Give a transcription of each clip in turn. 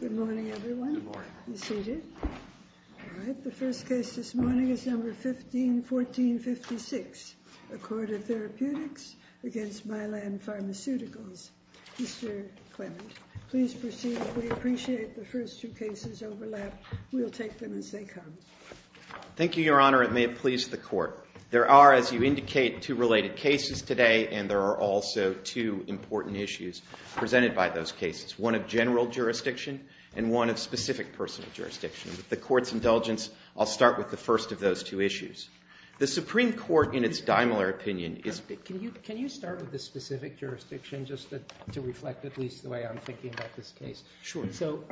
Good morning, everyone. Good morning. Be seated. All right. The first case this morning is number 151456, Accorda Therapeutics against Mylan Pharmaceuticals. Mr. Clement, please proceed. We appreciate the first two cases overlap. We'll take them as they come. Thank you, Your Honor. It may please the Court. There are, as you indicate, two related cases today, and there are also two important issues presented by those cases, one of general jurisdiction and one of specific personal jurisdiction. With the Court's indulgence, I'll start with the first of those two issues. The Supreme Court, in its Daimler opinion, is— Can you start with the specific jurisdiction just to reflect at least the way I'm thinking about this case? Sure. So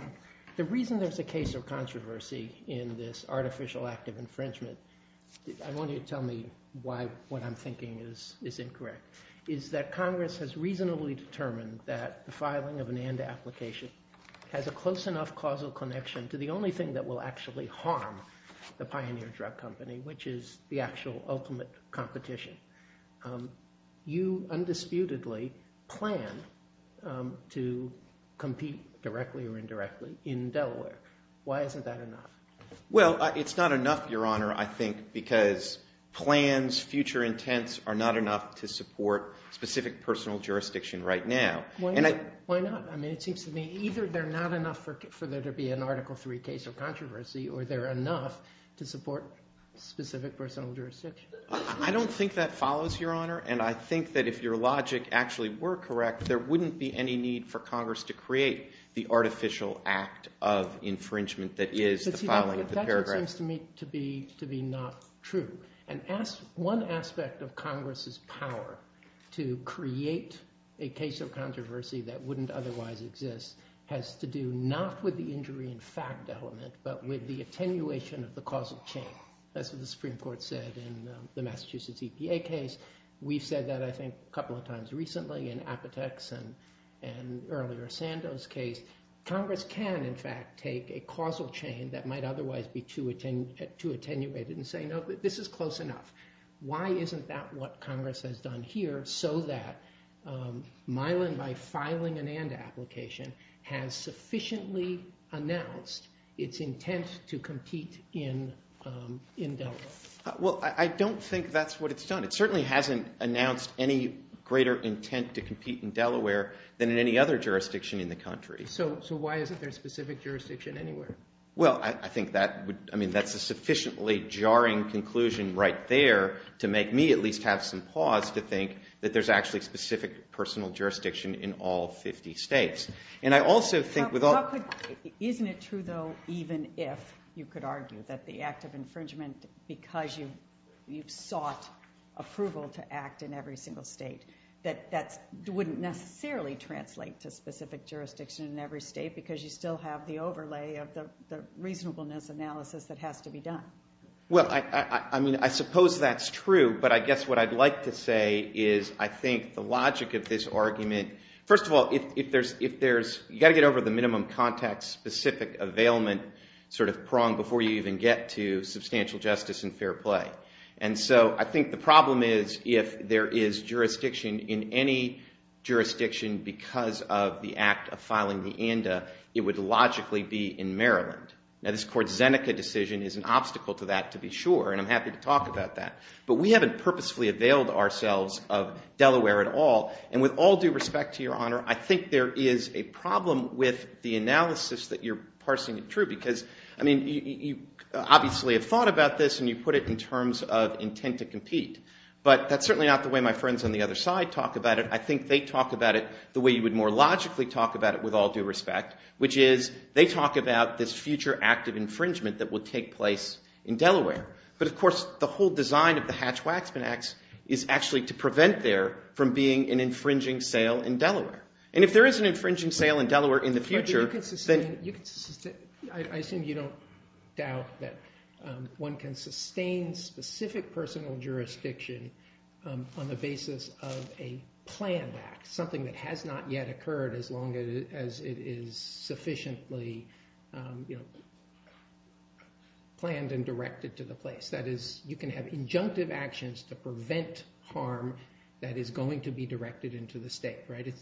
the reason there's a case of controversy in this artificial act of infringement—I want you to tell me why what I'm thinking is incorrect—is that Congress has reasonably determined that the filing of an ANDA application has a close enough causal connection to the only thing that will actually harm the Pioneer Drug Company, which is the actual ultimate competition. You undisputedly plan to compete directly or indirectly in Delaware. Why isn't that enough? Well, it's not enough, Your Honor, I think, because plans, future intents are not enough to support specific personal jurisdiction right now. Why not? I mean, it seems to me either they're not enough for there to be an Article III case of controversy or they're enough to support specific personal jurisdiction. I don't think that follows, Your Honor, and I think that if your logic actually were correct, there wouldn't be any need for Congress to create the artificial act of infringement that is the filing of the paragraph. That seems to me to be not true. And one aspect of Congress's power to create a case of controversy that wouldn't otherwise exist has to do not with the injury in fact element, but with the attenuation of the causal chain. That's what the Supreme Court said in the Massachusetts EPA case. We've said that, I think, a couple of times recently in Apotex and earlier Sando's case. Congress can, in fact, take a causal chain that might otherwise be too attenuated and say, no, this is close enough. Why isn't that what Congress has done here so that Mylan, by filing an and application, has sufficiently announced its intent to compete in Delaware? Well, I don't think that's what it's done. It certainly hasn't announced any greater intent to compete in Delaware than in any other jurisdiction in the country. So why isn't there a specific jurisdiction anywhere? Well, I think that's a sufficiently jarring conclusion right there to make me at least have some pause to think that there's actually a specific personal jurisdiction in all 50 states. And I also think with all... Isn't it true, though, even if you could argue that the act of infringement, because you've sought approval to act in every single state, that that wouldn't necessarily translate to in every state because you still have the overlay of the reasonableness analysis that has to be done? Well, I mean, I suppose that's true. But I guess what I'd like to say is I think the logic of this argument... First of all, if there's... You've got to get over the minimum context-specific availment prong before you even get to substantial justice and fair play. And so I think the problem is if there is jurisdiction in any jurisdiction because of the act of filing the ANDA, it would logically be in Maryland. Now, this court's Zeneca decision is an obstacle to that, to be sure, and I'm happy to talk about that. But we haven't purposefully availed ourselves of Delaware at all. And with all due respect to Your Honor, I think there is a problem with the analysis that you're parsing it true because, I mean, you obviously have thought about this and you put it in terms of intent to compete. But that's certainly not the way my friends on the other side talk about it. I think they talk about it the way you would more logically talk about it with all due respect, which is they talk about this future act of infringement that will take place in Delaware. But, of course, the whole design of the Hatch-Waxman Act is actually to prevent there from being an infringing sale in Delaware. And if there is an infringing sale in Delaware in the future, then... something that has not yet occurred as long as it is sufficiently planned and directed to the place. That is, you can have injunctive actions to prevent harm that is going to be directed into the state, right?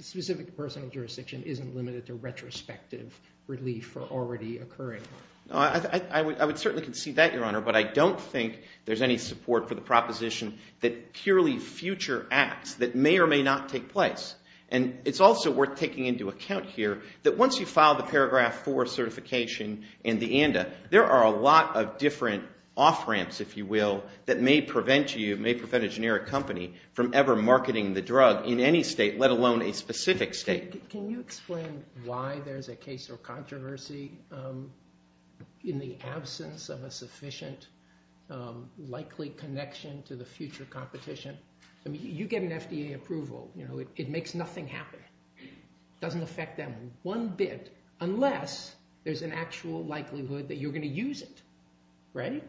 Specific personal jurisdiction isn't limited to retrospective relief for already occurring harm. I would certainly concede that, Your Honor, but I don't think there's any support for the proposition that purely future acts that may or may not take place. And it's also worth taking into account here that once you file the Paragraph 4 certification and the ANDA, there are a lot of different off-ramps, if you will, that may prevent you, may prevent a generic company from ever marketing the drug in any state, let alone a specific state. Can you explain why there's a case or controversy in the absence of a sufficient likely connection to the future competition? I mean, you get an FDA approval. It makes nothing happen. It doesn't affect them one bit unless there's an actual likelihood that you're going to use it, right?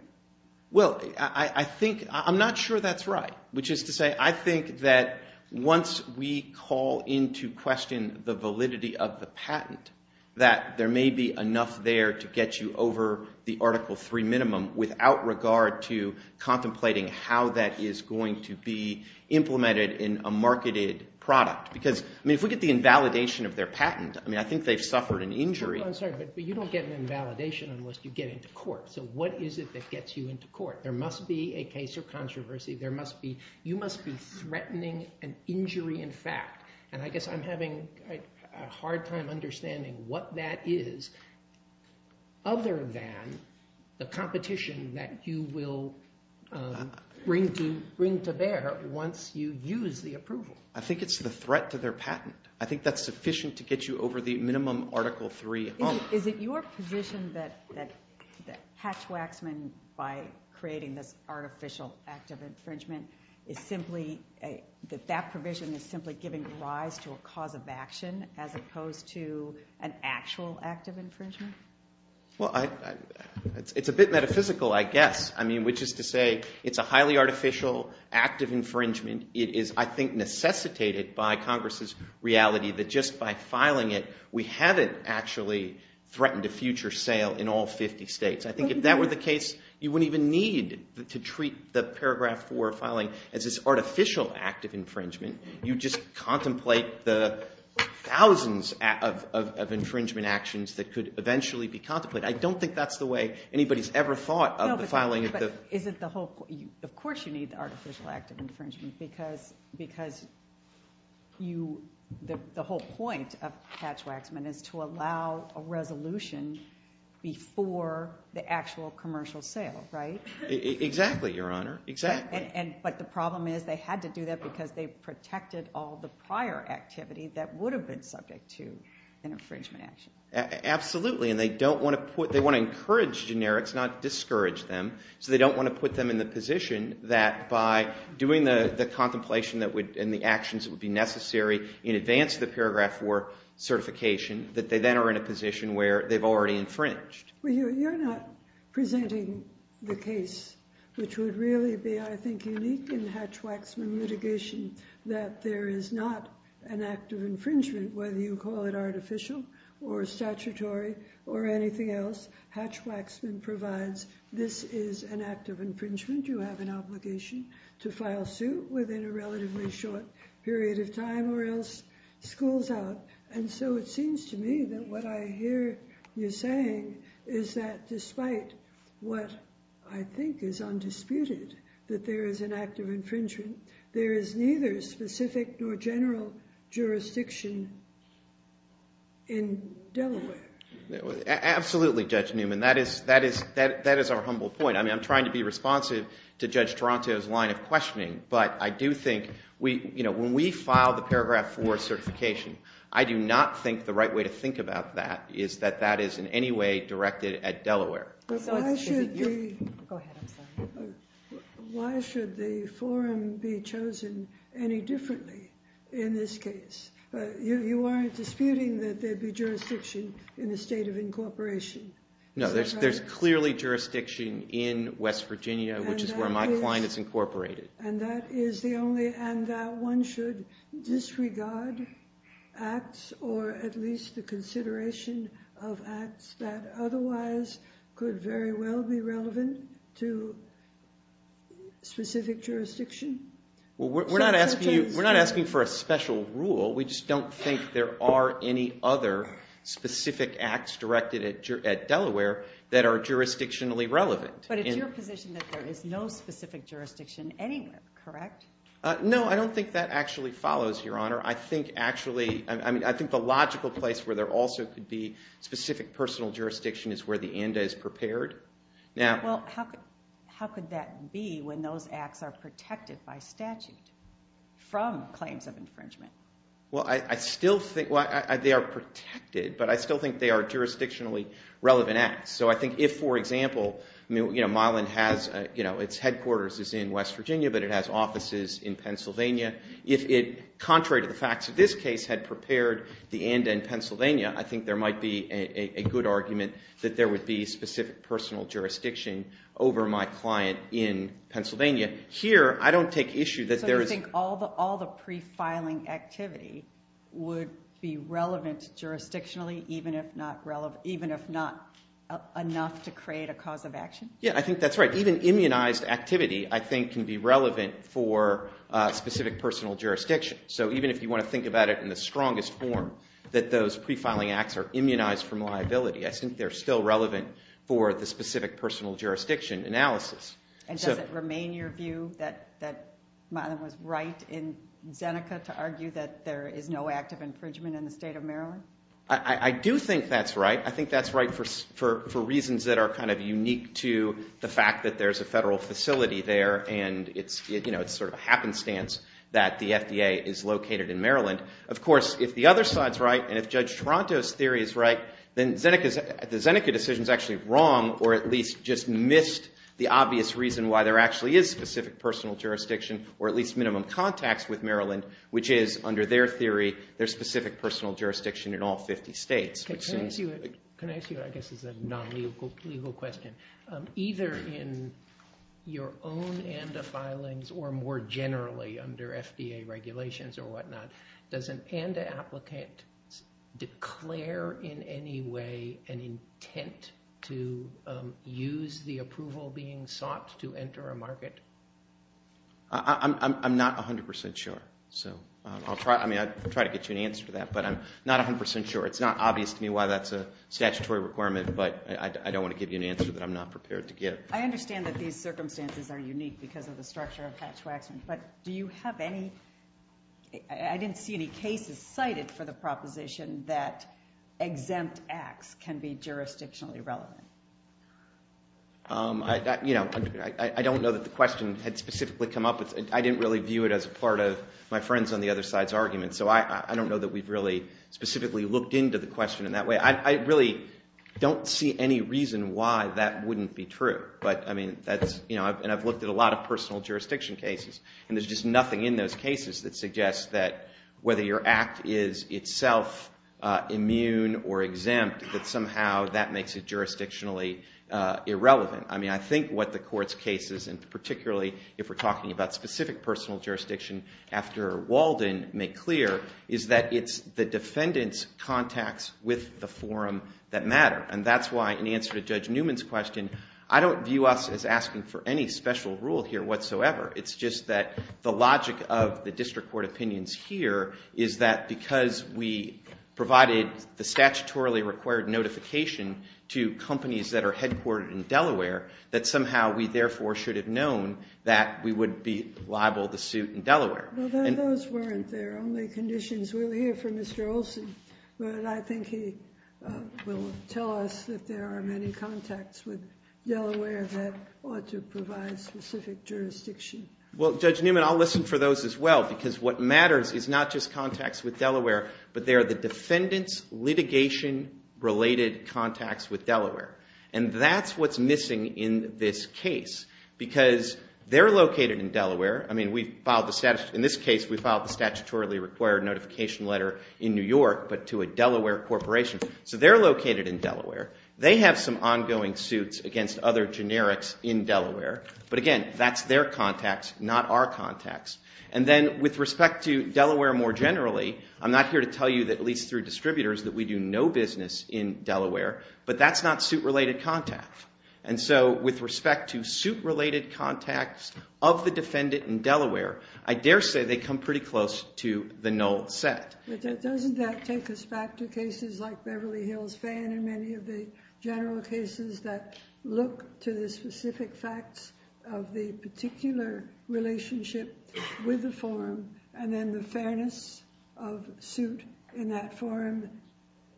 Well, I think... I'm not sure that's right. Which is to say, I think that once we call into question the validity of the patent, that there may be enough there to get you over the Article 3 minimum without regard to contemplating how that is going to be implemented in a marketed product. Because, I mean, if we get the invalidation of their patent, I mean, I think they've suffered an injury. I'm sorry, but you don't get an invalidation unless you get into court. So what is it that gets you into court? There must be a case or controversy. There must be... You must be threatening an injury in fact. And I guess I'm having a hard time understanding what that is other than the competition that you will bring to bear once you use the approval. I think it's the threat to their patent. I think that's sufficient to get you over the minimum Article 3. Is it your position that Hatch-Waxman, by creating this artificial act of infringement, is simply... That that provision is simply giving rise to a cause of action as opposed to an actual act of infringement? Well, it's a bit metaphysical, I guess. I mean, which is to say, it's a highly artificial act of infringement. It is, I think, necessitated by Congress's reality that just by filing it, we haven't actually threatened a future sale in all 50 states. I think if that were the case, you wouldn't even need to treat the Paragraph 4 filing as this artificial act of infringement. You just contemplate the thousands of infringement actions that could eventually be contemplated. I don't think that's the way anybody's ever thought of the filing of the... No, but is it the whole... Of course you need the artificial act of infringement because you... Allow a resolution before the actual commercial sale, right? Exactly, Your Honor, exactly. But the problem is they had to do that because they protected all the prior activity that would have been subject to an infringement action. Absolutely, and they don't want to put... They want to encourage generics, not discourage them, so they don't want to put them in the position that by doing the contemplation and the actions that would be necessary in advance of the Paragraph 4 certification, that they then are in a position where they've already infringed. Well, you're not presenting the case, which would really be, I think, unique in Hatch-Waxman litigation, that there is not an act of infringement, whether you call it artificial or statutory or anything else. Hatch-Waxman provides this is an act of infringement. You have an obligation to file suit within a relatively short period of time or else schools out. And so it seems to me that what I hear you saying is that despite what I think is undisputed, that there is an act of infringement, there is neither specific nor general jurisdiction in Delaware. Absolutely, Judge Newman. That is our humble point. I mean, I'm trying to be responsive to Judge Toronto's line of questioning. But I do think when we file the Paragraph 4 certification, I do not think the right way to think about that is that that is in any way directed at Delaware. Why should the forum be chosen any differently in this case? You aren't disputing that there'd be jurisdiction in the state of incorporation. No, there's clearly jurisdiction in West Virginia, which is where my client is incorporated. And that one should disregard acts or at least the consideration of acts that otherwise could very well be relevant to specific jurisdiction? We're not asking for a special rule. We just don't think there are any other specific acts directed at Delaware that are jurisdictionally relevant. But it's your position that there is no specific jurisdiction anywhere, correct? No, I don't think that actually follows, Your Honor. I think actually, I mean, I think the logical place where there also could be specific personal jurisdiction is where the ANDA is prepared. Well, how could that be when those acts are protected by statute from claims of infringement? Well, I still think, well, they are protected, but I still think they are jurisdictionally relevant acts. So I think if, for example, you know, Milan has, you know, its headquarters is in West Virginia, but it has offices in Pennsylvania. If it, contrary to the facts of this case, had prepared the ANDA in Pennsylvania, I think there might be a good argument that there would be specific personal jurisdiction over my client in Pennsylvania. Here, I don't take issue that there is... So you think all the prefiling activity would be relevant jurisdictionally, even if not relevant, even if not enough to create a cause of action? Yeah, I think that's right. Even immunized activity, I think, can be relevant for specific personal jurisdiction. So even if you want to think about it in the strongest form, that those prefiling acts are immunized from liability, I think they're still relevant for the specific personal jurisdiction analysis. And does it remain your view that Milan was right in Zeneca to argue that there is no active infringement in the state of Maryland? I do think that's right. I think that's right for reasons that are kind of unique to the fact that there's a in Maryland. Of course, if the other side's right, and if Judge Toronto's theory is right, then the Zeneca decision's actually wrong, or at least just missed the obvious reason why there actually is specific personal jurisdiction, or at least minimum contacts with Maryland, which is, under their theory, there's specific personal jurisdiction in all 50 states. Can I ask you, I guess, as a non-legal question, either in your own ANDA filings, or more generally under FDA regulations or whatnot, does an ANDA applicant declare in any way an intent to use the approval being sought to enter a market? I'm not 100% sure. I'll try to get you an answer to that, but I'm not 100% sure. It's not obvious to me why that's a statutory requirement, but I don't want to give you an answer that I'm not prepared to give. I understand that these circumstances are unique because of the structure of Hatch-Waxman, but do you have any... I didn't see any cases cited for the proposition that exempt acts can be jurisdictionally relevant. I don't know that the question had specifically come up with... I didn't really view it as a part of my friend's on the other side's argument, so I don't know that we've really specifically looked into the question in that way. I really don't see any reason why that wouldn't be true, and I've looked at a lot of personal jurisdiction cases, and there's just nothing in those cases that suggests that whether your act is itself immune or exempt, that somehow that makes it jurisdictionally irrelevant. I think what the court's cases, and particularly if we're talking about specific personal jurisdiction after Walden, make clear is that it's the defendant's contacts with the forum that matter, and that's why in answer to Judge Newman's question, I don't view us as asking for any special rule here whatsoever. It's just that the logic of the district court opinions here is that because we provided the statutorily required notification to companies that are headquartered in Delaware, that somehow we therefore should have known that we would be liable to suit in Delaware. Those weren't their only conditions. We'll hear from Mr. Olson, but I think he will tell us that there are many contacts with Delaware that ought to provide specific jurisdiction. Well, Judge Newman, I'll listen for those as well, because what matters is not just contacts with Delaware, but they are the defendant's litigation-related contacts with Delaware, and that's what's missing in this case, because they're located in Delaware. In this case, we filed the statutorily required notification letter in New York, but to a Delaware corporation, so they're located in Delaware. They have some ongoing suits against other generics in Delaware, but again, that's their contacts, not our contacts. And then with respect to Delaware more generally, I'm not here to tell you, at least through distributors, that we do no business in Delaware, but that's not suit-related contact. And so with respect to suit-related contacts of the defendant in Delaware, I dare say they come pretty close to the null set. But doesn't that take us back to cases like Beverly Hills Fan and many of the general cases that look to the specific facts of the particular relationship with the forum and then the fairness of suit in that forum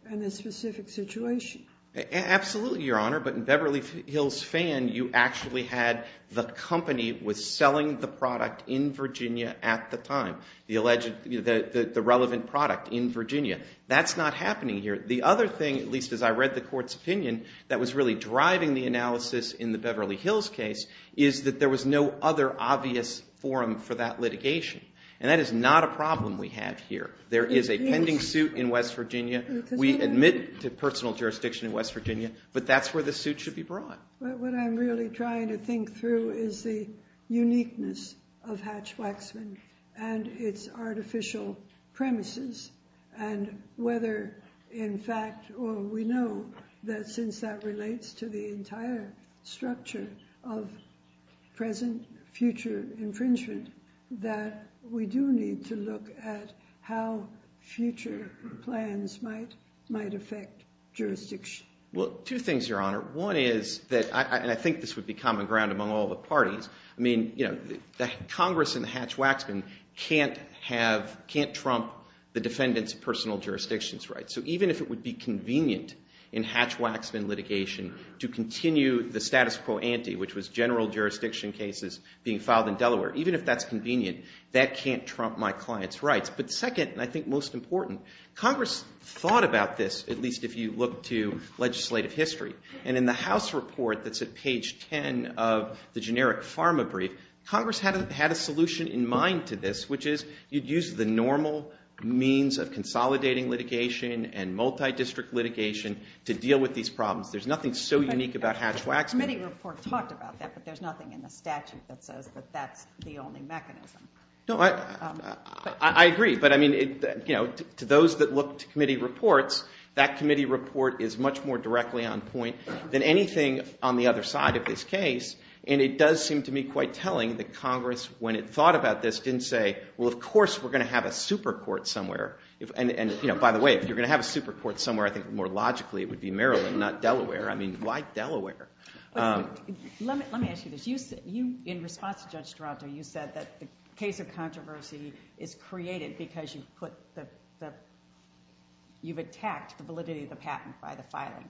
and the specific situation? Absolutely, Your Honor, but in Beverly Hills Fan, you actually had the company was selling the product in Virginia at the time, the relevant product in Virginia. That's not happening here. The other thing, at least as I read the court's opinion, that was really driving the analysis in the Beverly Hills case is that there was no other obvious forum for that litigation, and that is not a problem we have here. There is a pending suit in West Virginia. We admit to personal jurisdiction in West Virginia, but that's where the suit should be brought. But what I'm really trying to think through is the uniqueness of Hatch-Waxman and its artificial premises and whether, in fact, we know that since that relates to the entire structure of present-future infringement, that we do need to look at how future plans might affect jurisdiction. Well, two things, Your Honor. One is that, and I think this would be common ground among all the parties, I mean, Congress and the Hatch-Waxman can't trump the defendant's personal jurisdiction's rights. So even if it would be convenient in Hatch-Waxman litigation to continue the status quo ante, which was general jurisdiction cases being filed in Delaware, even if that's convenient, that can't trump my client's rights. But second, and I think most important, Congress thought about this, at least if you look to legislative history. And in the House report that's at page 10 of the generic pharma brief, Congress had a solution in mind to this, which is you'd use the normal means of consolidating litigation and multi-district litigation to deal with these problems. There's nothing so unique about Hatch-Waxman. The committee report talked about that, but there's nothing in the statute that says that that's the only mechanism. No, I agree. But, I mean, you know, to those that look to committee reports, that committee report is much more directly on point than anything on the other side of this case, and it does seem to me quite telling that Congress, when it thought about this, didn't say, well, of course we're going to have a super court somewhere. And, you know, by the way, if you're going to have a super court somewhere, I think more logically it would be Maryland, not Delaware. I mean, why Delaware? Let me ask you this. In response to Judge Toronto, you said that the case of controversy is created because you've attacked the validity of the patent by the filing.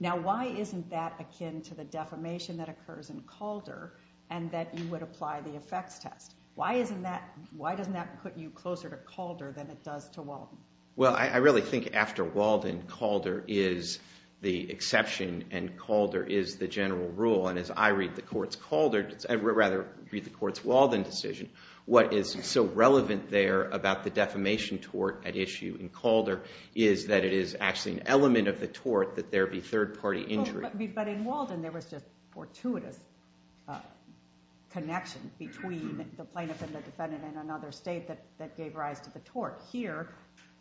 Now, why isn't that akin to the defamation that occurs in Calder and that you would apply the effects test? Why doesn't that put you closer to Calder than it does to Walden? Well, I really think after Walden, Calder is the exception and Calder is the general rule. And as I read the court's Calder, or rather read the court's Walden decision, what is so relevant there about the defamation tort at issue in Calder is that it is actually an element of the tort that there be third-party injury. But in Walden there was just fortuitous connection between the plaintiff and the defendant in another state that gave rise to the tort. Here,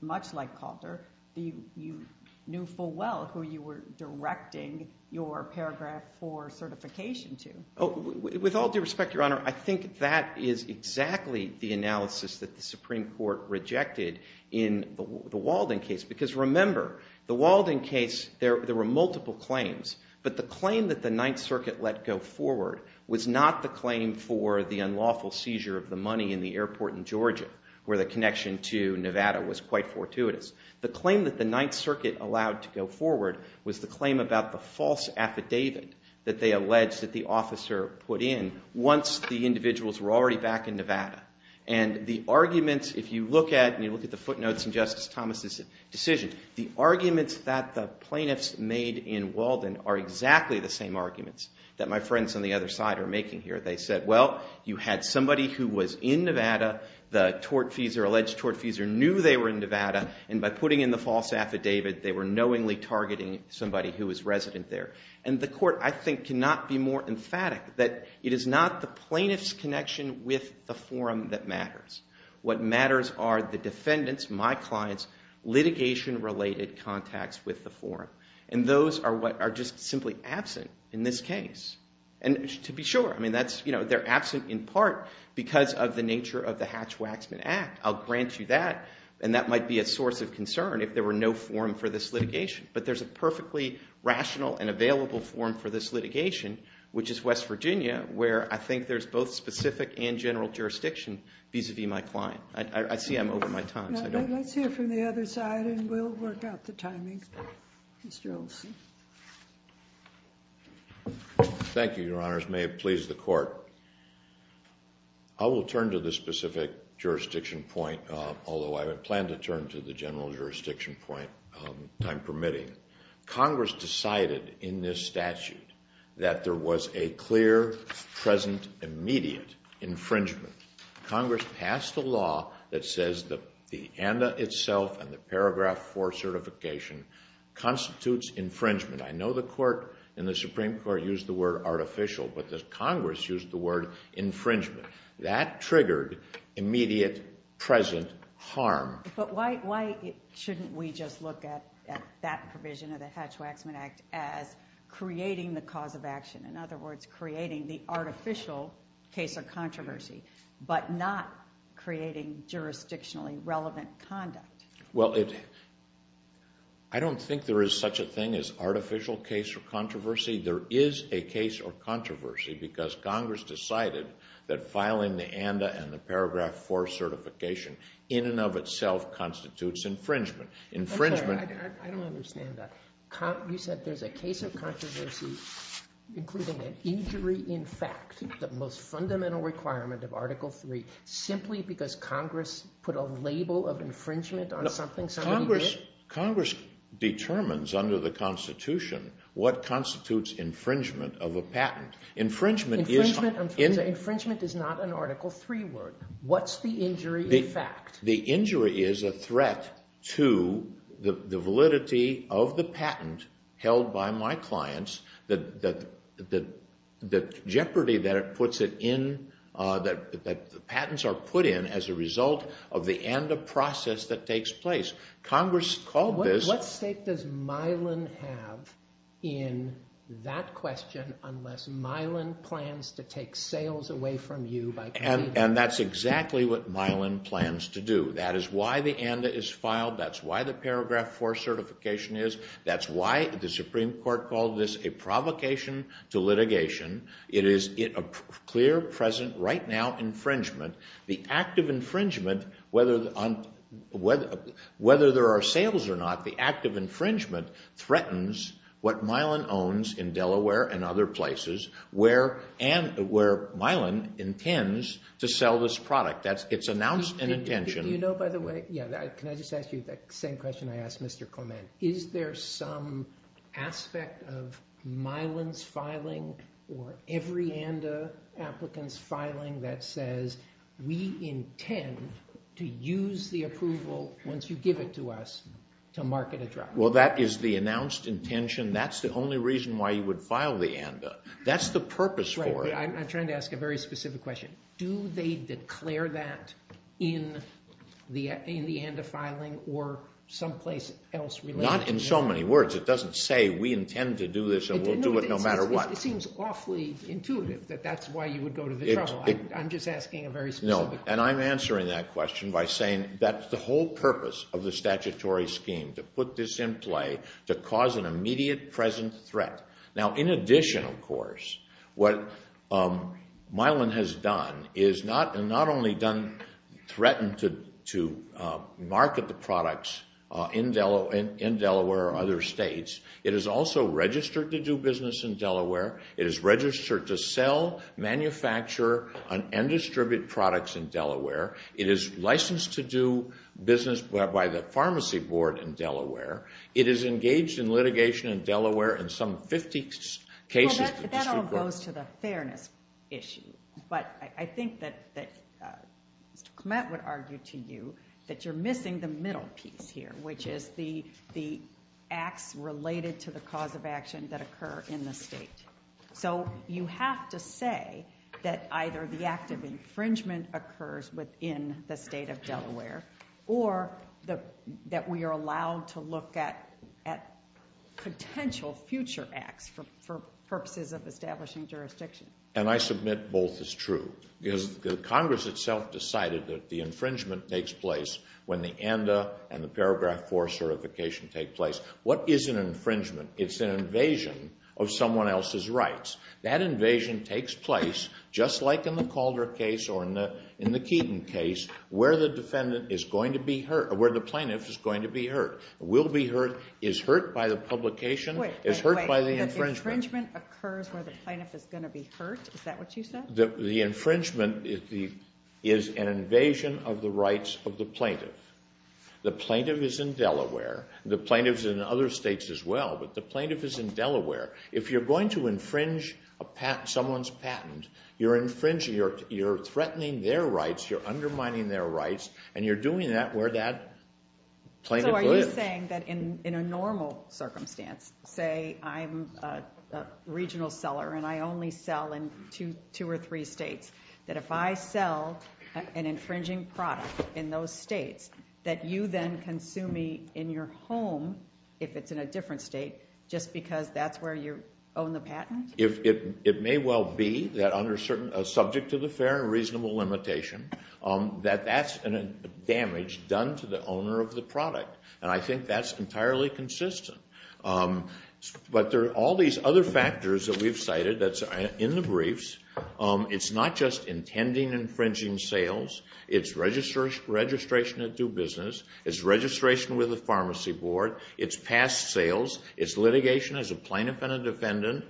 much like Calder, you knew full well who you were directing your paragraph for certification to. Oh, with all due respect, Your Honor, I think that is exactly the analysis that the Supreme Court rejected in the Walden case. Because remember, the Walden case, there were multiple claims, but the claim that the Ninth Circuit let go forward was not the claim for the unlawful seizure of the money in the airport in Georgia where the connection to Nevada was quite fortuitous. The claim that the Ninth Circuit allowed to go forward was the claim about the false affidavit that they alleged that the officer put in once the individuals were already back in Nevada. And the arguments, if you look at the footnotes in Justice Thomas's decision, the arguments that the plaintiffs made in Walden are exactly the same arguments that my friends on the other side are making here. They said, well, you had somebody who was in Nevada, the alleged tortfeasor knew they were in Nevada, and by putting in the false affidavit they were knowingly targeting somebody who was resident there. And the court, I think, cannot be more emphatic that it is not the plaintiff's connection with the forum that matters. What matters are the defendant's, my client's, litigation-related contacts with the forum, and those are just simply absent in this case. And to be sure, they're absent in part because of the nature of the Hatch-Waxman Act. I'll grant you that, and that might be a source of concern if there were no forum for this litigation. But there's a perfectly rational and available forum for this litigation, which is West Virginia, where I think there's both specific and general jurisdiction vis-à-vis my client. I see I'm over my time, so I don't know. Let's hear from the other side, and we'll work out the timing. Mr. Olson. Thank you, Your Honors. May it please the court. I will turn to the specific jurisdiction point, although I plan to turn to the general jurisdiction point, time permitting. Congress decided in this statute that there was a clear, present, immediate infringement. Congress passed a law that says that the ANDA itself and the Paragraph 4 certification constitutes infringement. I know the Supreme Court used the word artificial, but Congress used the word infringement. That triggered immediate, present harm. But why shouldn't we just look at that provision of the Hatch-Waxman Act as creating the cause of action, in other words, creating the artificial case of controversy, but not creating jurisdictionally relevant conduct? Well, I don't think there is such a thing as artificial case of controversy. There is a case of controversy because Congress decided that filing the ANDA and the Paragraph 4 certification in and of itself constitutes infringement. I'm sorry, I don't understand that. You said there's a case of controversy including an injury in fact, the most fundamental requirement of Article 3, simply because Congress put a label of infringement on something somebody did? Congress determines under the Constitution what constitutes infringement of a patent. Infringement is not an Article 3 word. What's the injury in fact? The injury is a threat to the validity of the patent held by my clients, the jeopardy that patents are put in as a result of the ANDA process that takes place. Congress called this… What stake does Mylan have in that question unless Mylan plans to take sales away from you? And that's exactly what Mylan plans to do. That is why the ANDA is filed. That's why the Paragraph 4 certification is. That's why the Supreme Court called this a provocation to litigation. It is a clear, present, right now infringement. The act of infringement, whether there are sales or not, the act of infringement threatens what Mylan owns in Delaware and other places where Mylan intends to sell this product. It's announced an intention. Do you know, by the way… Can I just ask you that same question I asked Mr. Clement? Is there some aspect of Mylan's filing or every ANDA applicant's filing that says, we intend to use the approval once you give it to us to market a drug? Well, that is the announced intention. That's the only reason why you would file the ANDA. That's the purpose for it. I'm trying to ask a very specific question. Do they declare that in the ANDA filing or someplace else? Not in so many words. It doesn't say we intend to do this and we'll do it no matter what. It seems awfully intuitive that that's why you would go to the trouble. I'm just asking a very specific question. And I'm answering that question by saying that the whole purpose of the statutory scheme to put this in play to cause an immediate, present threat. Now, in addition, of course, what Mylan has done is not only threatened to market the products in Delaware or other states, it is also registered to do business in Delaware. It is registered to sell, manufacture, and distribute products in Delaware. It is licensed to do business by the pharmacy board in Delaware. It is engaged in litigation in Delaware in some 50 cases. That all goes to the fairness issue. But I think that Mr. Clement would argue to you that you're missing the middle piece here, which is the acts related to the cause of action that occur in the state. So you have to say that either the act of infringement occurs within the state of Delaware or that we are allowed to look at potential future acts for purposes of establishing jurisdiction. And I submit both is true. Because Congress itself decided that the infringement takes place when the ANDA and the Paragraph 4 certification take place. What is an infringement? It's an invasion of someone else's rights. That invasion takes place, just like in the Calder case or in the Keeton case, where the defendant is going to be hurt, where the plaintiff is going to be hurt, will be hurt, is hurt by the publication, is hurt by the infringement. Wait, wait, wait. The infringement occurs where the plaintiff is going to be hurt? Is that what you said? The infringement is an invasion of the rights of the plaintiff. The plaintiff is in Delaware. The plaintiff is in other states as well, but the plaintiff is in Delaware. If you're going to infringe someone's patent, you're threatening their rights, you're undermining their rights, and you're doing that where that plaintiff lives. So are you saying that in a normal circumstance, say I'm a regional seller and I only sell in two or three states, that if I sell an infringing product in those states, that you then consume me in your home if it's in a different state just because that's where you own the patent? It may well be that under a subject to the fair and reasonable limitation that that's damage done to the owner of the product, and I think that's entirely consistent. But there are all these other factors that we've cited that's in the briefs. It's not just intending infringing sales. It's registration of due business. It's registration with the pharmacy board. It's past sales. It's litigation as a plaintiff and a defendant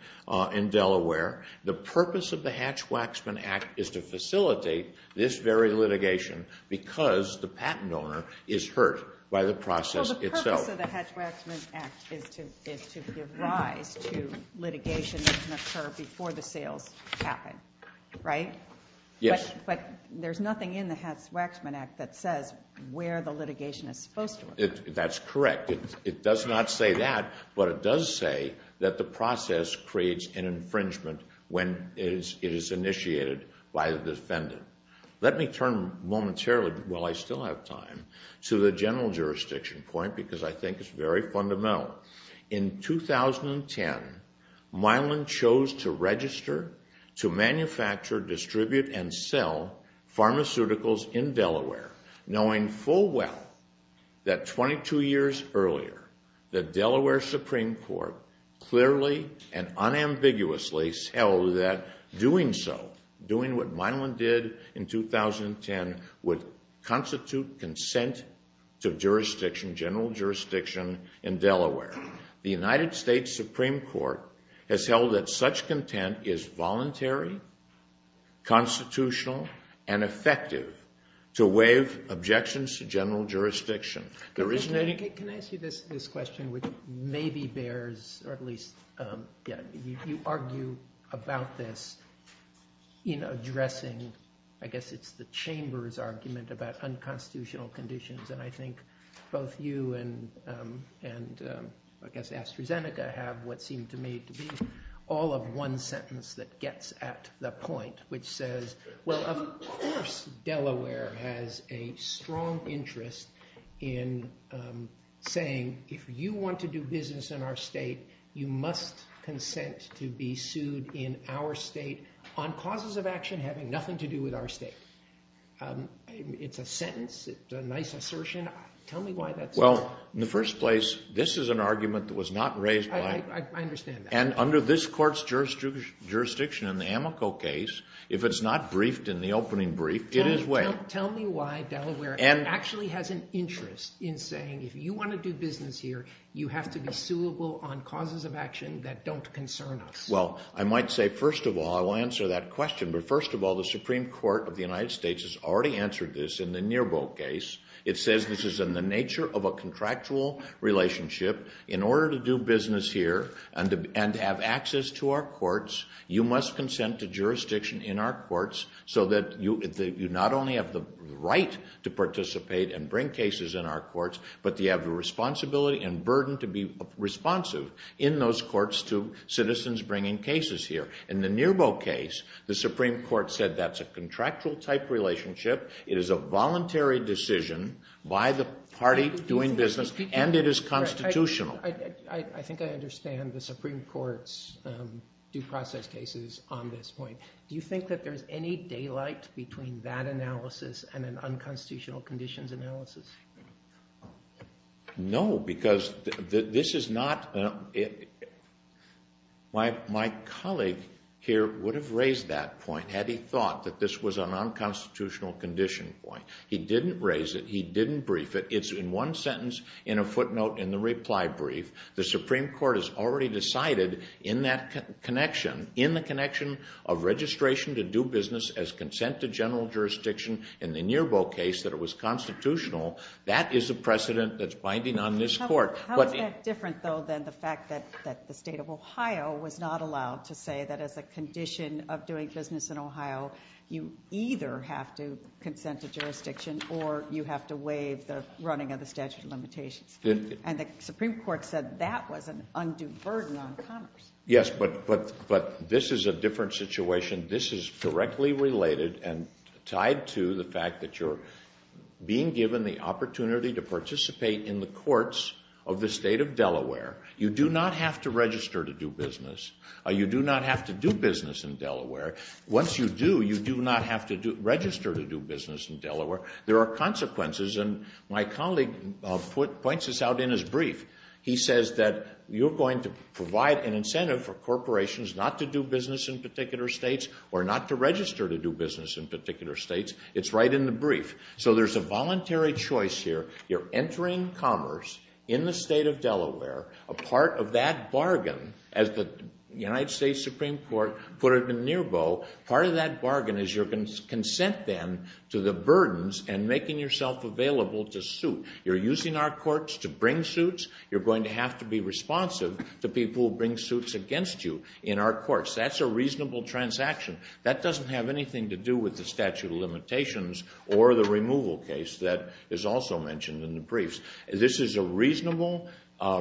in Delaware. The purpose of the Hatch-Waxman Act is to facilitate this very litigation because the patent owner is hurt by the process itself. So the Hatch-Waxman Act is to give rise to litigation that can occur before the sales happen, right? Yes. But there's nothing in the Hatch-Waxman Act that says where the litigation is supposed to occur. That's correct. It does not say that, but it does say that the process creates an infringement when it is initiated by the defendant. Let me turn momentarily, while I still have time, to the general jurisdiction point because I think it's very fundamental. In 2010, Milan chose to register, to manufacture, distribute, and sell pharmaceuticals in Delaware, knowing full well that 22 years earlier the Delaware Supreme Court clearly and unambiguously held that doing so, as Milan did in 2010, would constitute consent to jurisdiction, general jurisdiction, in Delaware. The United States Supreme Court has held that such content is voluntary, constitutional, and effective to waive objections to general jurisdiction. Can I ask you this question, which maybe bears, or at least you argue about this in addressing, I guess it's the Chamber's argument about unconstitutional conditions, and I think both you and, I guess, AstraZeneca have what seemed to me to be all of one sentence that gets at the point, which says, well, of course Delaware has a strong interest in saying if you want to do business in our state, you must consent to be sued in our state on causes of action having nothing to do with our state. It's a sentence. It's a nice assertion. Tell me why that's so. Well, in the first place, this is an argument that was not raised by… I understand that. And under this court's jurisdiction in the Amoco case, if it's not briefed in the opening brief, it is waived. Tell me why Delaware actually has an interest in saying if you want to do business here, you have to be suable on causes of action that don't concern us. Well, I might say, first of all, I will answer that question, but first of all, the Supreme Court of the United States has already answered this in the Nearbolt case. It says this is in the nature of a contractual relationship. In order to do business here and to have access to our courts, you must consent to jurisdiction in our courts so that you not only have the right to participate and bring cases in our courts, but you have the responsibility and burden to be responsive in those courts to citizens bringing cases here. In the Nearbolt case, the Supreme Court said that's a contractual-type relationship. It is a voluntary decision by the party doing business, and it is constitutional. I think I understand the Supreme Court's due process cases on this point. Do you think that there's any daylight between that analysis and an unconstitutional conditions analysis? No, because this is not my colleague here would have raised that point had he thought that this was a nonconstitutional condition point. He didn't raise it. He didn't brief it. It's in one sentence, in a footnote in the reply brief. The Supreme Court has already decided in that connection, in the connection of registration to do business as consent to general jurisdiction in the Nearbolt case that it was constitutional. That is a precedent that's binding on this court. How is that different, though, than the fact that the state of Ohio was not allowed to say that as a condition of doing business in Ohio, you either have to consent to jurisdiction or you have to waive the running of the statute of limitations? And the Supreme Court said that was an undue burden on commerce. Yes, but this is a different situation. This is directly related and tied to the fact that you're being given the opportunity to participate in the courts of the state of Delaware. You do not have to register to do business. You do not have to do business in Delaware. Once you do, you do not have to register to do business in Delaware. There are consequences, and my colleague points this out in his brief. He says that you're going to provide an incentive for corporations not to do business in particular states or not to register to do business in particular states. It's right in the brief. So there's a voluntary choice here. You're entering commerce in the state of Delaware. A part of that bargain, as the United States Supreme Court put it in Nearbow, part of that bargain is your consent then to the burdens and making yourself available to suit. You're using our courts to bring suits. You're going to have to be responsive to people who bring suits against you in our courts. That's a reasonable transaction. That doesn't have anything to do with the statute of limitations or the removal case that is also mentioned in the briefs. This is a reasonable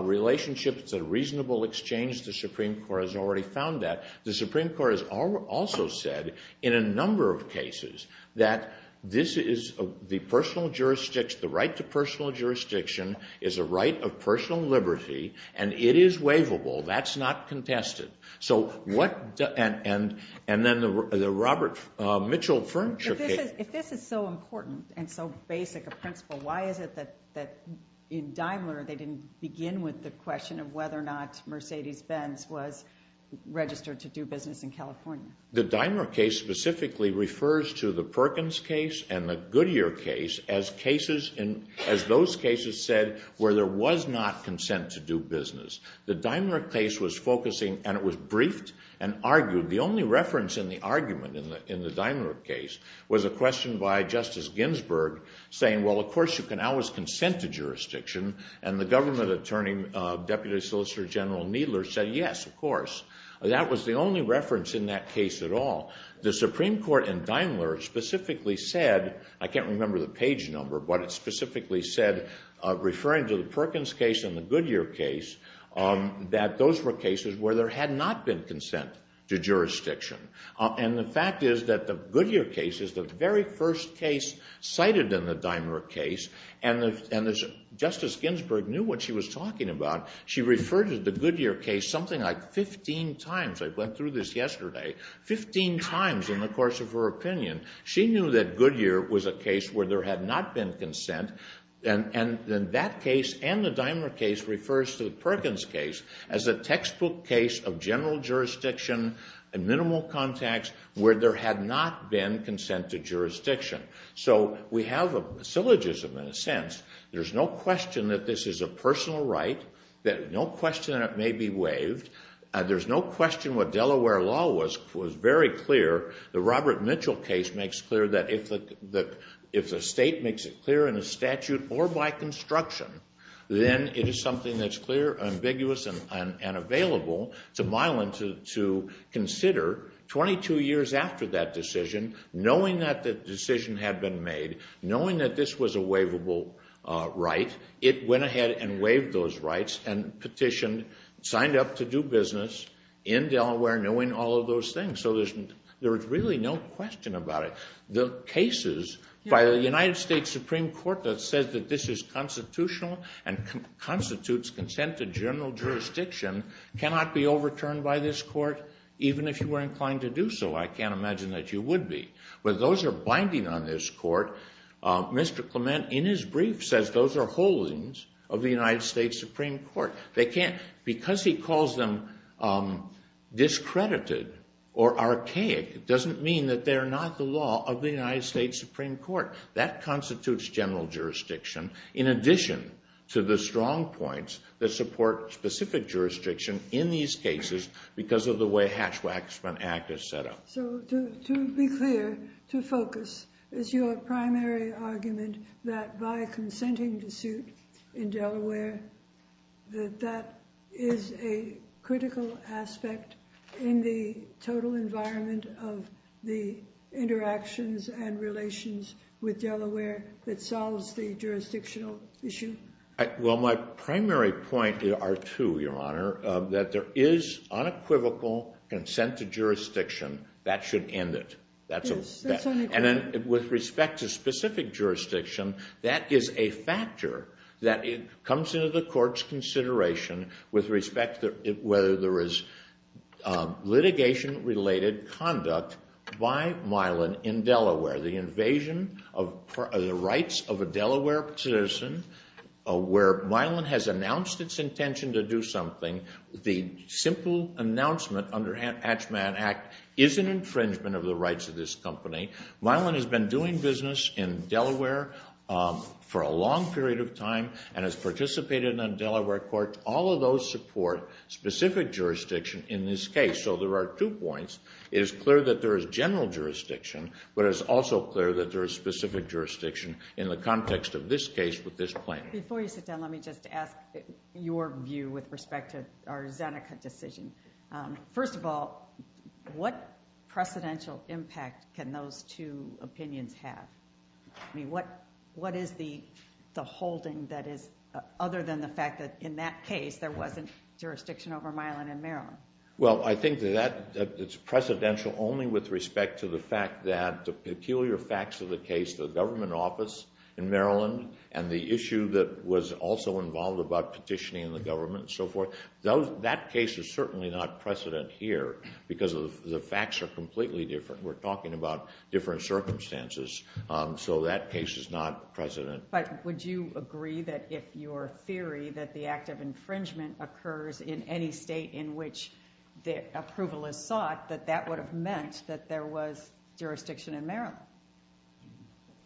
relationship. It's a reasonable exchange. The Supreme Court has already found that. The Supreme Court has also said in a number of cases that this is the personal jurisdiction, the right to personal jurisdiction is a right of personal liberty, and it is waivable. That's not contested. And then the Robert Mitchell Furniture case. If this is so important and so basic a principle, why is it that in Daimler they didn't begin with the question of whether or not Mercedes-Benz was registered to do business in California? The Daimler case specifically refers to the Perkins case and the Goodyear case as those cases said where there was not consent to do business. The Daimler case was focusing, and it was briefed and argued, the only reference in the argument in the Daimler case was a question by Justice Ginsburg saying, well, of course you can always consent to jurisdiction, and the government attorney, Deputy Solicitor General Needler, said yes, of course. That was the only reference in that case at all. The Supreme Court in Daimler specifically said, I can't remember the page number, but it specifically said, referring to the Perkins case and the Goodyear case, that those were cases where there had not been consent to jurisdiction. And the fact is that the Goodyear case is the very first case cited in the Daimler case, and Justice Ginsburg knew what she was talking about. She referred to the Goodyear case something like 15 times. I went through this yesterday, 15 times in the course of her opinion. She knew that Goodyear was a case where there had not been consent, and that case and the Daimler case refers to the Perkins case as a textbook case of general jurisdiction and minimal contacts where there had not been consent to jurisdiction. So we have a syllogism in a sense. There's no question that this is a personal right, no question that it may be waived. There's no question what Delaware law was very clear. The Robert Mitchell case makes clear that if the state makes it clear in a statute or by construction, then it is something that's clear, ambiguous, and available. It's a mile and two to consider. Twenty-two years after that decision, knowing that the decision had been made, knowing that this was a waivable right, it went ahead and waived those rights and petitioned, signed up to do business in Delaware knowing all of those things. So there's really no question about it. The cases by the United States Supreme Court that says that this is constitutional and constitutes consent to general jurisdiction cannot be overturned by this court, even if you were inclined to do so. I can't imagine that you would be. But those are binding on this court. Mr. Clement, in his brief, says those are holdings of the United States Supreme Court. Because he calls them discredited or archaic, it doesn't mean that they're not the law of the United States Supreme Court. That constitutes general jurisdiction. In addition to the strong points that support specific jurisdiction in these cases because of the way Hatch-Waxman Act is set up. So to be clear, to focus, is your primary argument that by consenting to suit in Delaware that that is a critical aspect in the total environment of the interactions and relations with Delaware that solves the jurisdictional issue? Well, my primary point are two, Your Honor. That there is unequivocal consent to jurisdiction. That should end it. And then with respect to specific jurisdiction, with respect to whether there is litigation-related conduct by Mylan in Delaware. The invasion of the rights of a Delaware citizen, where Mylan has announced its intention to do something. The simple announcement under Hatch-Waxman Act is an infringement of the rights of this company. Mylan has been doing business in Delaware for a long period of time and has participated on Delaware court. All of those support specific jurisdiction in this case. So there are two points. It is clear that there is general jurisdiction, but it is also clear that there is specific jurisdiction in the context of this case with this plaintiff. Before you sit down, let me just ask your view with respect to our Zeneca decision. First of all, what precedential impact can those two opinions have? I mean, what is the holding that is other than the fact that in that case, there wasn't jurisdiction over Mylan in Maryland? Well, I think that it's precedential only with respect to the fact that the peculiar facts of the case, the government office in Maryland, and the issue that was also involved about petitioning the government and so forth. That case is certainly not precedent here because the facts are completely different. We're talking about different circumstances. So that case is not precedent. But would you agree that if your theory that the act of infringement occurs in any state in which approval is sought, that that would have meant that there was jurisdiction in Maryland?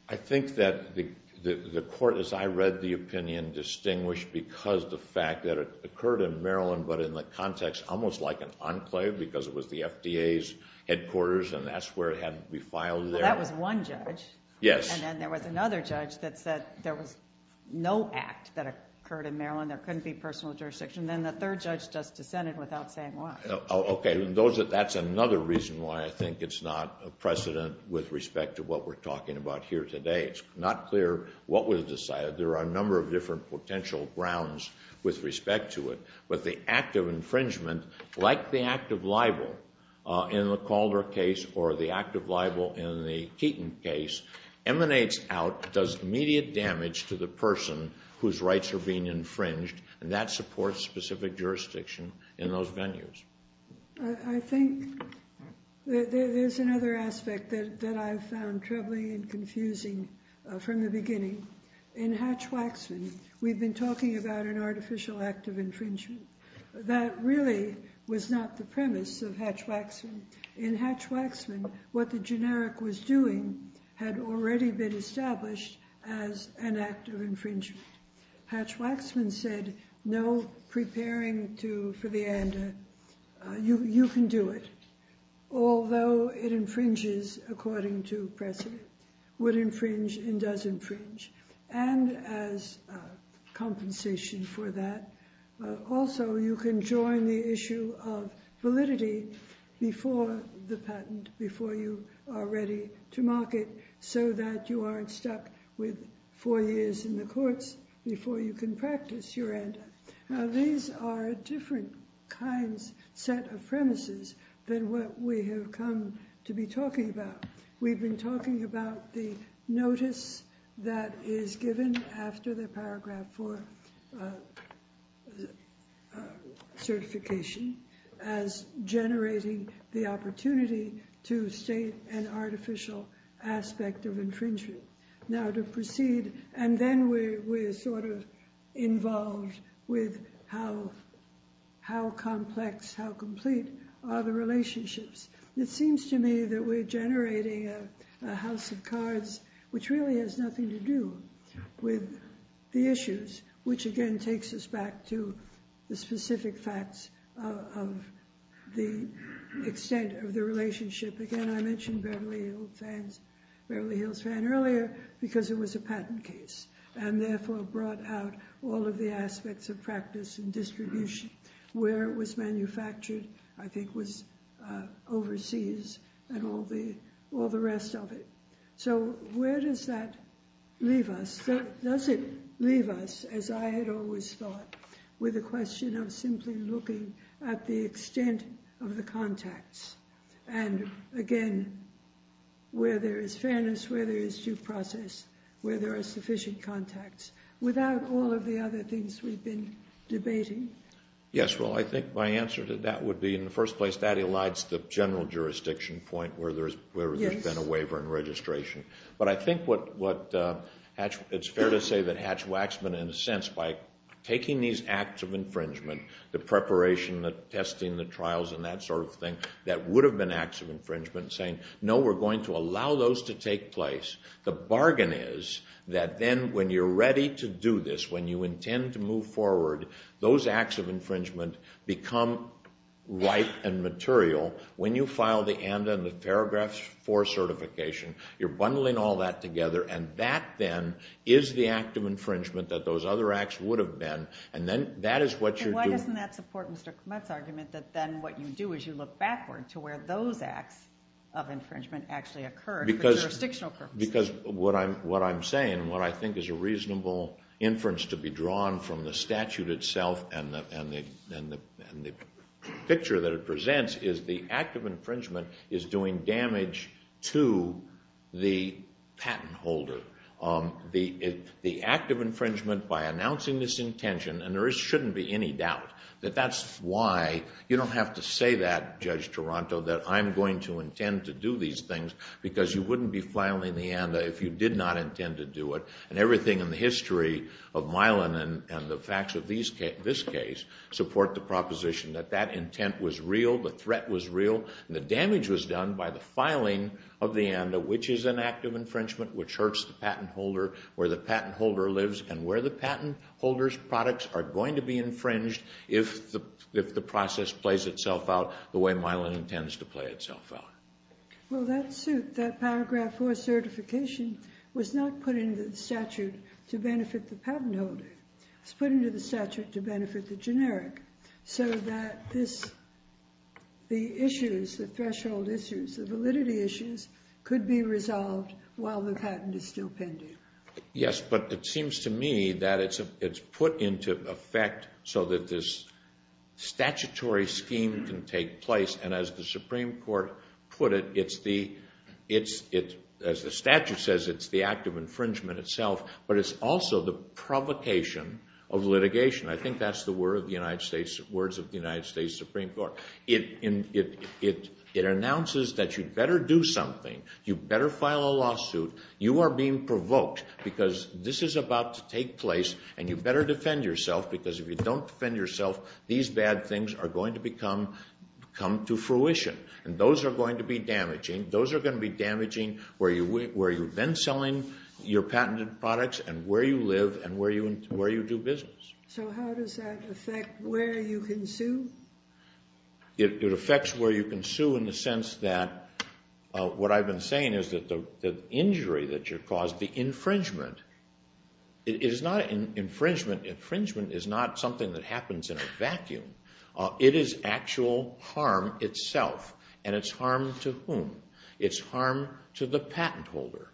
I think that the court, as I read the opinion, distinguished because the fact that it occurred in Maryland, but in the context almost like an enclave because it was the FDA's headquarters and that's where it had to be filed there. Well, that was one judge. Yes. And then there was another judge that said there was no act that occurred in Maryland. There couldn't be personal jurisdiction. Then the third judge just dissented without saying why. Okay. That's another reason why I think it's not precedent with respect to what we're talking about here today. It's not clear what was decided. There are a number of different potential grounds with respect to it. But the act of infringement, like the act of libel in the Calder case or the act of libel in the Keaton case, emanates out, does immediate damage to the person whose rights are being infringed, and that supports specific jurisdiction in those venues. I think there's another aspect that I found troubling and confusing from the beginning. In Hatch-Waxman, we've been talking about an artificial act of infringement. That really was not the premise of Hatch-Waxman. In Hatch-Waxman, what the generic was doing had already been established as an act of infringement. Hatch-Waxman said no preparing for the ANDA. You can do it, although it infringes according to precedent. It would infringe and does infringe, and as compensation for that. Also, you can join the issue of validity before the patent, before you are ready to market, so that you aren't stuck with four years in the courts before you can practice your ANDA. Now, these are different kinds, set of premises than what we have come to be talking about. We've been talking about the notice that is given after the Paragraph 4 certification as generating the opportunity to state an artificial aspect of infringement. Now, to proceed, and then we're sort of involved with how complex, how complete are the relationships. It seems to me that we're generating a house of cards, which really has nothing to do with the issues, which again takes us back to the specific facts of the extent of the relationship. Again, I mentioned Beverly Hills Fan earlier because it was a patent case, and therefore brought out all of the aspects of practice and distribution. Where it was manufactured, I think, was overseas and all the rest of it. So, where does that leave us? Does it leave us, as I had always thought, with the question of simply looking at the extent of the contacts? And again, where there is fairness, where there is due process, where there are sufficient contacts. Without all of the other things we've been debating. Yes, well, I think my answer to that would be, in the first place, that elides the general jurisdiction point where there's been a waiver and registration. But I think it's fair to say that Hatch-Waxman, in a sense, by taking these acts of infringement, the preparation, the testing, the trials, and that sort of thing, that would have been acts of infringement, saying, no, we're going to allow those to take place. The bargain is that then, when you're ready to do this, when you intend to move forward, those acts of infringement become ripe and material. When you file the ANDA and the Paragraph 4 certification, you're bundling all that together, and that, then, is the act of infringement that those other acts would have been. And then that is what you're doing. And why doesn't that support Mr. Kmetz's argument that then what you do is you look backward to where those acts of infringement actually occur for jurisdictional purposes? Because what I'm saying and what I think is a reasonable inference to be drawn from the statute itself and the picture that it presents is the act of infringement is doing damage to the patent holder. The act of infringement, by announcing this intention, and there shouldn't be any doubt that that's why. You don't have to say that, Judge Toronto, that I'm going to intend to do these things because you wouldn't be filing the ANDA if you did not intend to do it. And everything in the history of Milan and the facts of this case support the proposition that that intent was real, the threat was real, and the damage was done by the filing of the ANDA, which is an act of infringement, which hurts the patent holder, where the patent holder lives, and where the patent holder's products are going to be infringed if the process plays itself out the way Milan intends to play itself out. Well, that paragraph 4 certification was not put into the statute to benefit the patent holder. It was put into the statute to benefit the generic so that the issues, the threshold issues, the validity issues could be resolved while the patent is still pending. Yes, but it seems to me that it's put into effect so that this statutory scheme can take place, and as the Supreme Court put it, as the statute says, it's the act of infringement itself, but it's also the provocation of litigation. I think that's the words of the United States Supreme Court. It announces that you'd better do something. You'd better file a lawsuit. You are being provoked because this is about to take place, and you'd better defend yourself because if you don't defend yourself, these bad things are going to come to fruition, and those are going to be damaging. Those are going to be damaging where you've been selling your patented products and where you live and where you do business. So how does that affect where you can sue? It affects where you can sue in the sense that what I've been saying is that the injury that you caused, the infringement, it is not infringement. Infringement is not something that happens in a vacuum. It is actual harm itself, and it's harm to whom? It's harm to the patent holder.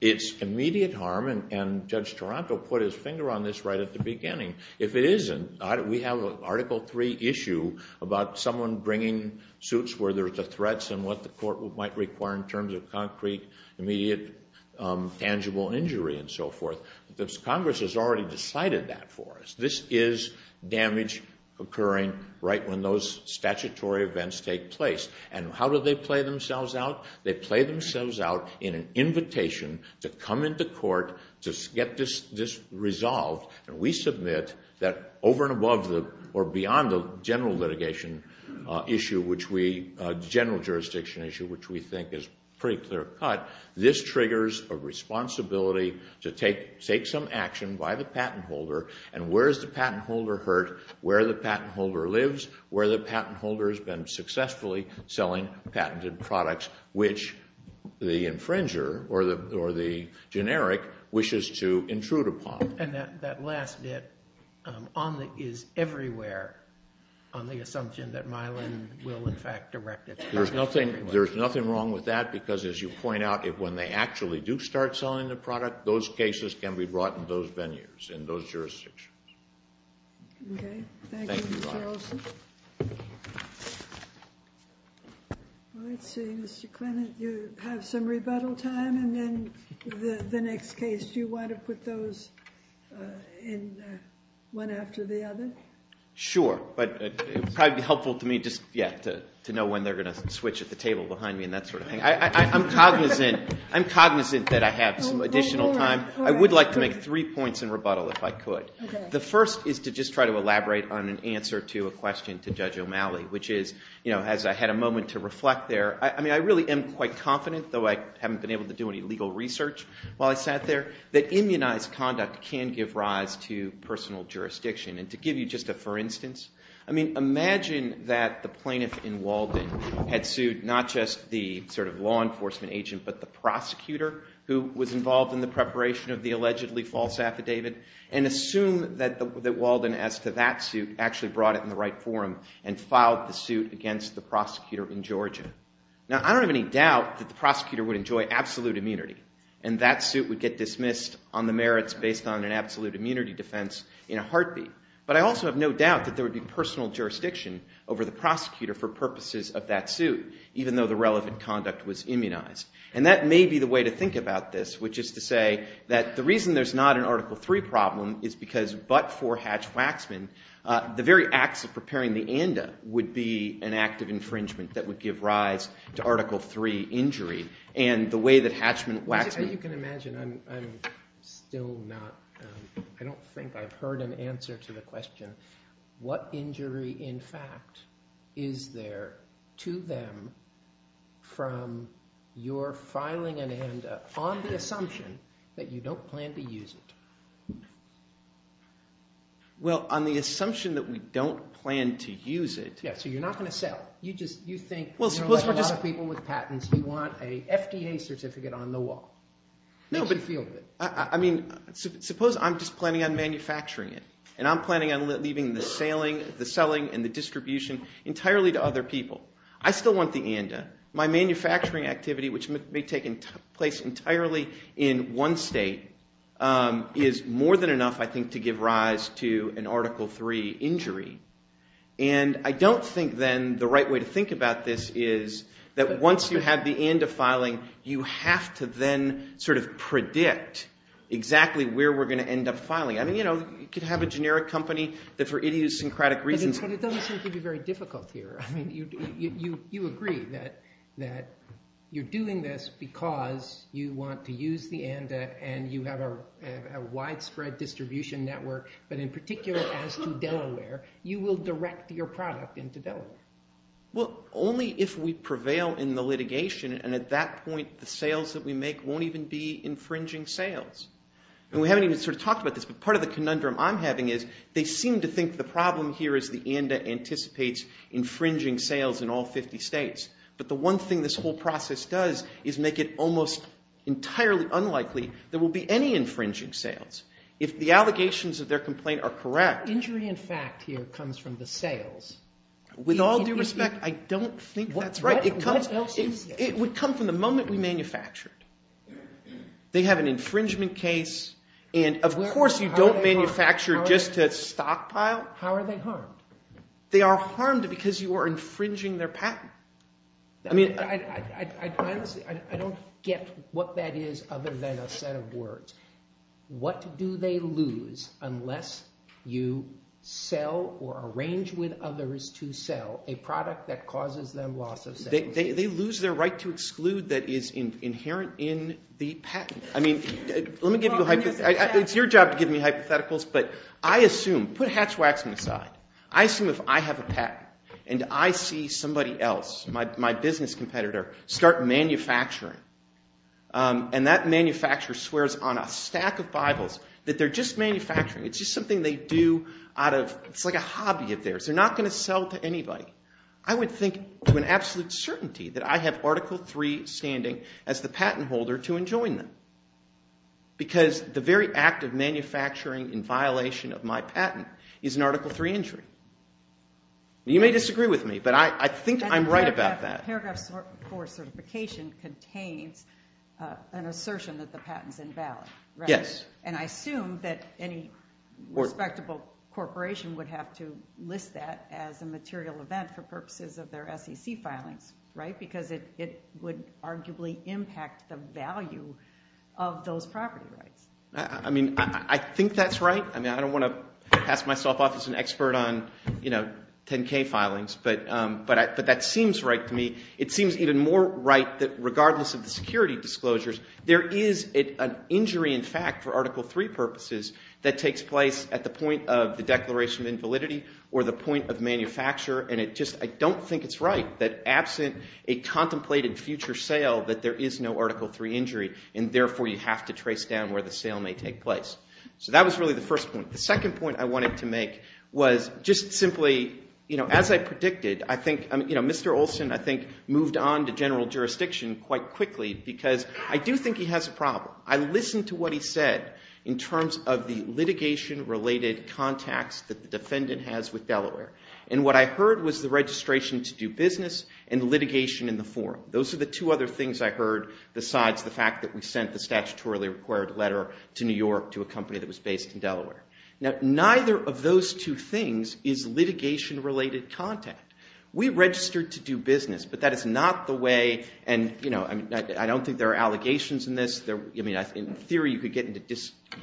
It's immediate harm, and Judge Taranto put his finger on this right at the beginning. If it isn't, we have an Article III issue about someone bringing suits where there's a threat and what the court might require in terms of concrete, immediate, tangible injury and so forth. Congress has already decided that for us. This is damage occurring right when those statutory events take place. And how do they play themselves out? They play themselves out in an invitation to come into court to get this resolved, and we submit that over and above or beyond the general litigation issue, the general jurisdiction issue, which we think is pretty clear-cut, this triggers a responsibility to take some action by the patent holder, and where is the patent holder hurt? Where the patent holder lives, where the patent holder has been successfully selling patented products, which the infringer or the generic wishes to intrude upon. And that last bit is everywhere on the assumption that Mylan will, in fact, erect its patent everywhere. There's nothing wrong with that because, as you point out, when they actually do start selling the product, those cases can be brought in those venues, in those jurisdictions. Okay. Thank you, Mr. Olson. Let's see. Mr. Klinit, you have some rebuttal time, and then the next case, do you want to put those in one after the other? Sure. But it would probably be helpful to me just, yeah, to know when they're going to switch at the table behind me and that sort of thing. I'm cognizant that I have some additional time. I would like to make three points in rebuttal if I could. The first is to just try to elaborate on an answer to a question to Judge O'Malley, which is, you know, as I had a moment to reflect there, I mean, I really am quite confident, though I haven't been able to do any legal research while I sat there, that immunized conduct can give rise to personal jurisdiction. And to give you just a for instance, I mean, imagine that the plaintiff in Walden had sued not just the sort of law enforcement agent, but the prosecutor who was involved in the preparation of the allegedly false affidavit and assume that Walden, as to that suit, actually brought it in the right forum and filed the suit against the prosecutor in Georgia. Now, I don't have any doubt that the prosecutor would enjoy absolute immunity and that suit would get dismissed on the merits based on an absolute immunity defense in a heartbeat. But I also have no doubt that there would be personal jurisdiction over the prosecutor for purposes of that suit, even though the relevant conduct was immunized. And that may be the way to think about this, which is to say that the reason there's not an Article III problem is because but for Hatch-Waxman, the very acts of preparing the ANDA would be an act of infringement that would give rise to Article III injury. And the way that Hatchman-Waxman- As you can imagine, I'm still not, I don't think I've heard an answer to the question, what injury, in fact, is there to them from your filing an ANDA on the assumption that you don't plan to use it? Well, on the assumption that we don't plan to use it- Yeah, so you're not going to sell. You just, you think- Well, suppose we're just- You know, like a lot of people with patents who want a FDA certificate on the wall. No, but- How do you feel about it? I mean, suppose I'm just planning on manufacturing it, and I'm planning on leaving the selling and the distribution entirely to other people. I still want the ANDA. My manufacturing activity, which may take place entirely in one state, is more than enough, I think, to give rise to an Article III injury. And I don't think then the right way to think about this is that once you have the ANDA filing, you have to then sort of predict exactly where we're going to end up filing. I mean, you know, you could have a generic company that for idiosyncratic reasons- But it doesn't seem to be very difficult here. I mean, you agree that you're doing this because you want to use the ANDA, and you have a widespread distribution network. But in particular, as to Delaware, you will direct your product into Delaware. Well, only if we prevail in the litigation, and at that point, the sales that we make won't even be infringing sales. And we haven't even sort of talked about this, but part of the conundrum I'm having is they seem to think the problem here is the ANDA anticipates infringing sales in all 50 states. But the one thing this whole process does is make it almost entirely unlikely there will be any infringing sales. If the allegations of their complaint are correct- Injury in fact here comes from the sales. With all due respect, I don't think that's right. It would come from the moment we manufactured. They have an infringement case, and of course you don't manufacture just to stockpile. How are they harmed? They are harmed because you are infringing their patent. I don't get what that is other than a set of words. What do they lose unless you sell or arrange with others to sell a product that causes them loss of sales? They lose their right to exclude that is inherent in the patent. I mean, let me give you a hypothetical. It's your job to give me hypotheticals, but I assume, put Hatch-Waxman aside, I assume if I have a patent and I see somebody else, my business competitor, start manufacturing, and that manufacturer swears on a stack of Bibles that they're just manufacturing. It's just something they do out of- it's like a hobby of theirs. They're not going to sell to anybody. I would think with absolute certainty that I have Article III standing as the patent holder to enjoin them because the very act of manufacturing in violation of my patent is an Article III injury. You may disagree with me, but I think I'm right about that. Paragraph IV certification contains an assertion that the patent is invalid, right? Yes. And I assume that any respectable corporation would have to list that as a material event for purposes of their SEC filings, right? Because it would arguably impact the value of those property rights. I mean, I think that's right. I mean, I don't want to pass myself off as an expert on 10-K filings, but that seems right to me. It seems even more right that regardless of the security disclosures, there is an injury in fact for Article III purposes that takes place at the point of the declaration of invalidity or the point of manufacture, and it just- I don't think it's right that absent a contemplated future sale that there is no Article III injury, and therefore you have to trace down where the sale may take place. So that was really the first point. The second point I wanted to make was just simply, you know, as I predicted, I think Mr. Olson, I think, moved on to general jurisdiction quite quickly because I do think he has a problem. I listened to what he said in terms of the litigation-related contacts that the defendant has with Delaware, and what I heard was the registration to do business and litigation in the forum. Those are the two other things I heard besides the fact that we sent the statutorily required letter to New York to a company that was based in Delaware. Now, neither of those two things is litigation-related contact. We registered to do business, but that is not the way, and, you know, I don't think there are allegations in this. In theory, you could get into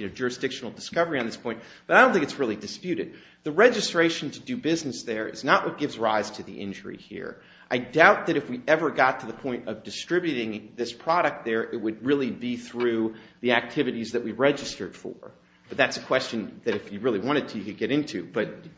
jurisdictional discovery on this point, but I don't think it's really disputed. The registration to do business there is not what gives rise to the injury here. I doubt that if we ever got to the point of distributing this product there, it would really be through the activities that we registered for, but that's a question that if you really wanted to, you could get into.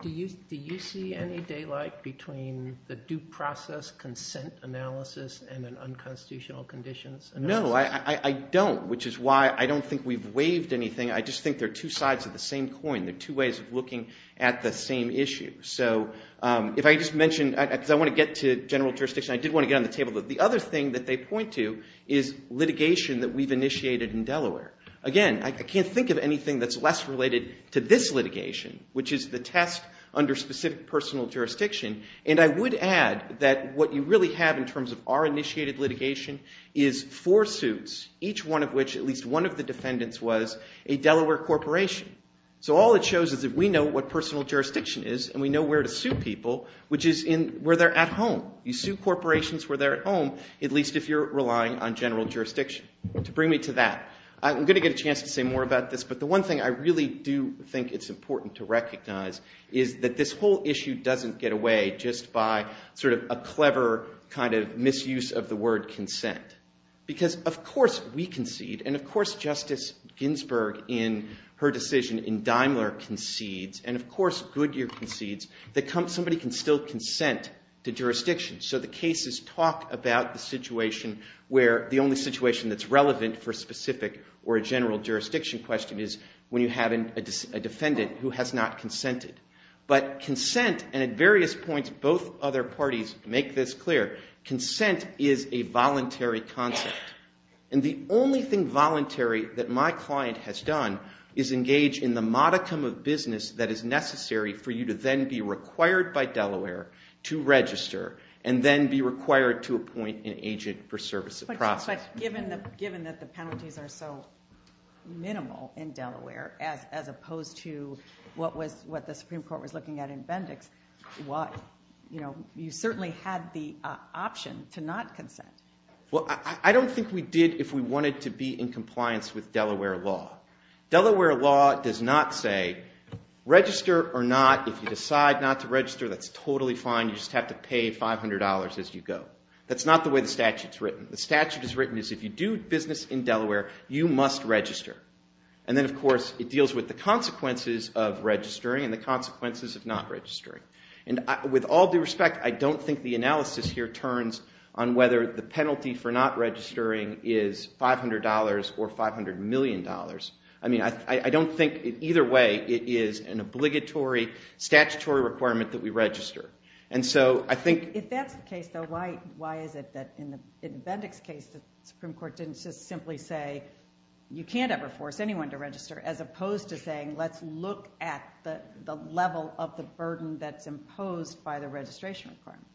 Do you see any daylight between the due process consent analysis and an unconstitutional conditions analysis? No, I don't, which is why I don't think we've waived anything. I just think they're two sides of the same coin. They're two ways of looking at the same issue. So if I just mention, because I want to get to general jurisdiction, I did want to get on the table. The other thing that they point to is litigation that we've initiated in Delaware. Again, I can't think of anything that's less related to this litigation, which is the test under specific personal jurisdiction, and I would add that what you really have in terms of our initiated litigation is four suits, each one of which at least one of the defendants was a Delaware corporation. So all it shows is that we know what personal jurisdiction is and we know where to sue people, which is where they're at home. You sue corporations where they're at home, at least if you're relying on general jurisdiction. To bring me to that, I'm going to get a chance to say more about this, but the one thing I really do think it's important to recognize is that this whole issue doesn't get away just by sort of a clever kind of misuse of the word consent. Because of course we concede, and of course Justice Ginsburg in her decision in Daimler concedes, and of course Goodyear concedes, that somebody can still consent to jurisdiction. So the cases talk about the situation where the only situation that's relevant for a specific or a general jurisdiction question is when you have a defendant who has not consented. But consent, and at various points both other parties make this clear, consent is a voluntary concept. And the only thing voluntary that my client has done is engage in the modicum of business that is necessary for you to then be required by Delaware to register and then be required to appoint an agent for service of process. But given that the penalties are so minimal in Delaware as opposed to what the Supreme Court was looking at in Bendix, you certainly had the option to not consent. I don't think we did if we wanted to be in compliance with Delaware law. Delaware law does not say register or not. If you decide not to register, that's totally fine. You just have to pay $500 as you go. That's not the way the statute is written. The statute is written as if you do business in Delaware, you must register. And then of course it deals with the consequences of registering and the consequences of not registering. And with all due respect, I don't think the analysis here turns on whether the penalty for not registering is $500 or $500 million. I mean, I don't think either way it is an obligatory statutory requirement that we register. If that's the case, though, why is it that in Bendix case the Supreme Court didn't just simply say you can't ever force anyone to register as opposed to saying let's look at the level of the burden that's imposed by the registration requirement?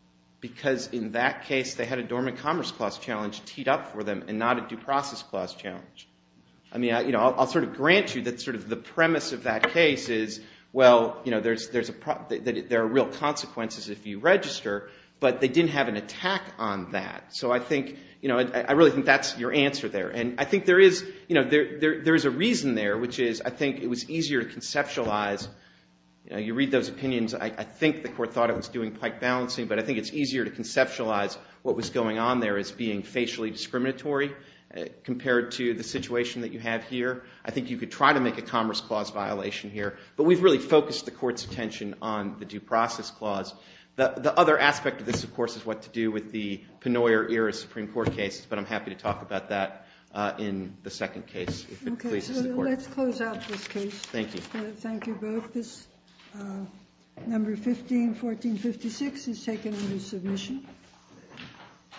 Because in that case they had a Dormant Commerce Clause challenge teed up for them and not a Due Process Clause challenge. I mean, I'll sort of grant you that sort of the premise of that case is well, there are real consequences if you register, but they didn't have an attack on that. So I really think that's your answer there. And I think there is a reason there, which is I think it was easier to conceptualize. You read those opinions. I think the court thought it was doing pike balancing, but I think it's easier to conceptualize what was going on there as being facially discriminatory compared to the situation that you have here. I think you could try to make a Commerce Clause violation here, but we've really focused the court's attention on the Due Process Clause. The other aspect of this, of course, is what to do with the Pennoyer-era Supreme Court case, but I'm happy to talk about that in the second case if it pleases the court. Okay, so let's close out this case. Thank you. Thank you both. This number 15-1456 is taken under submission.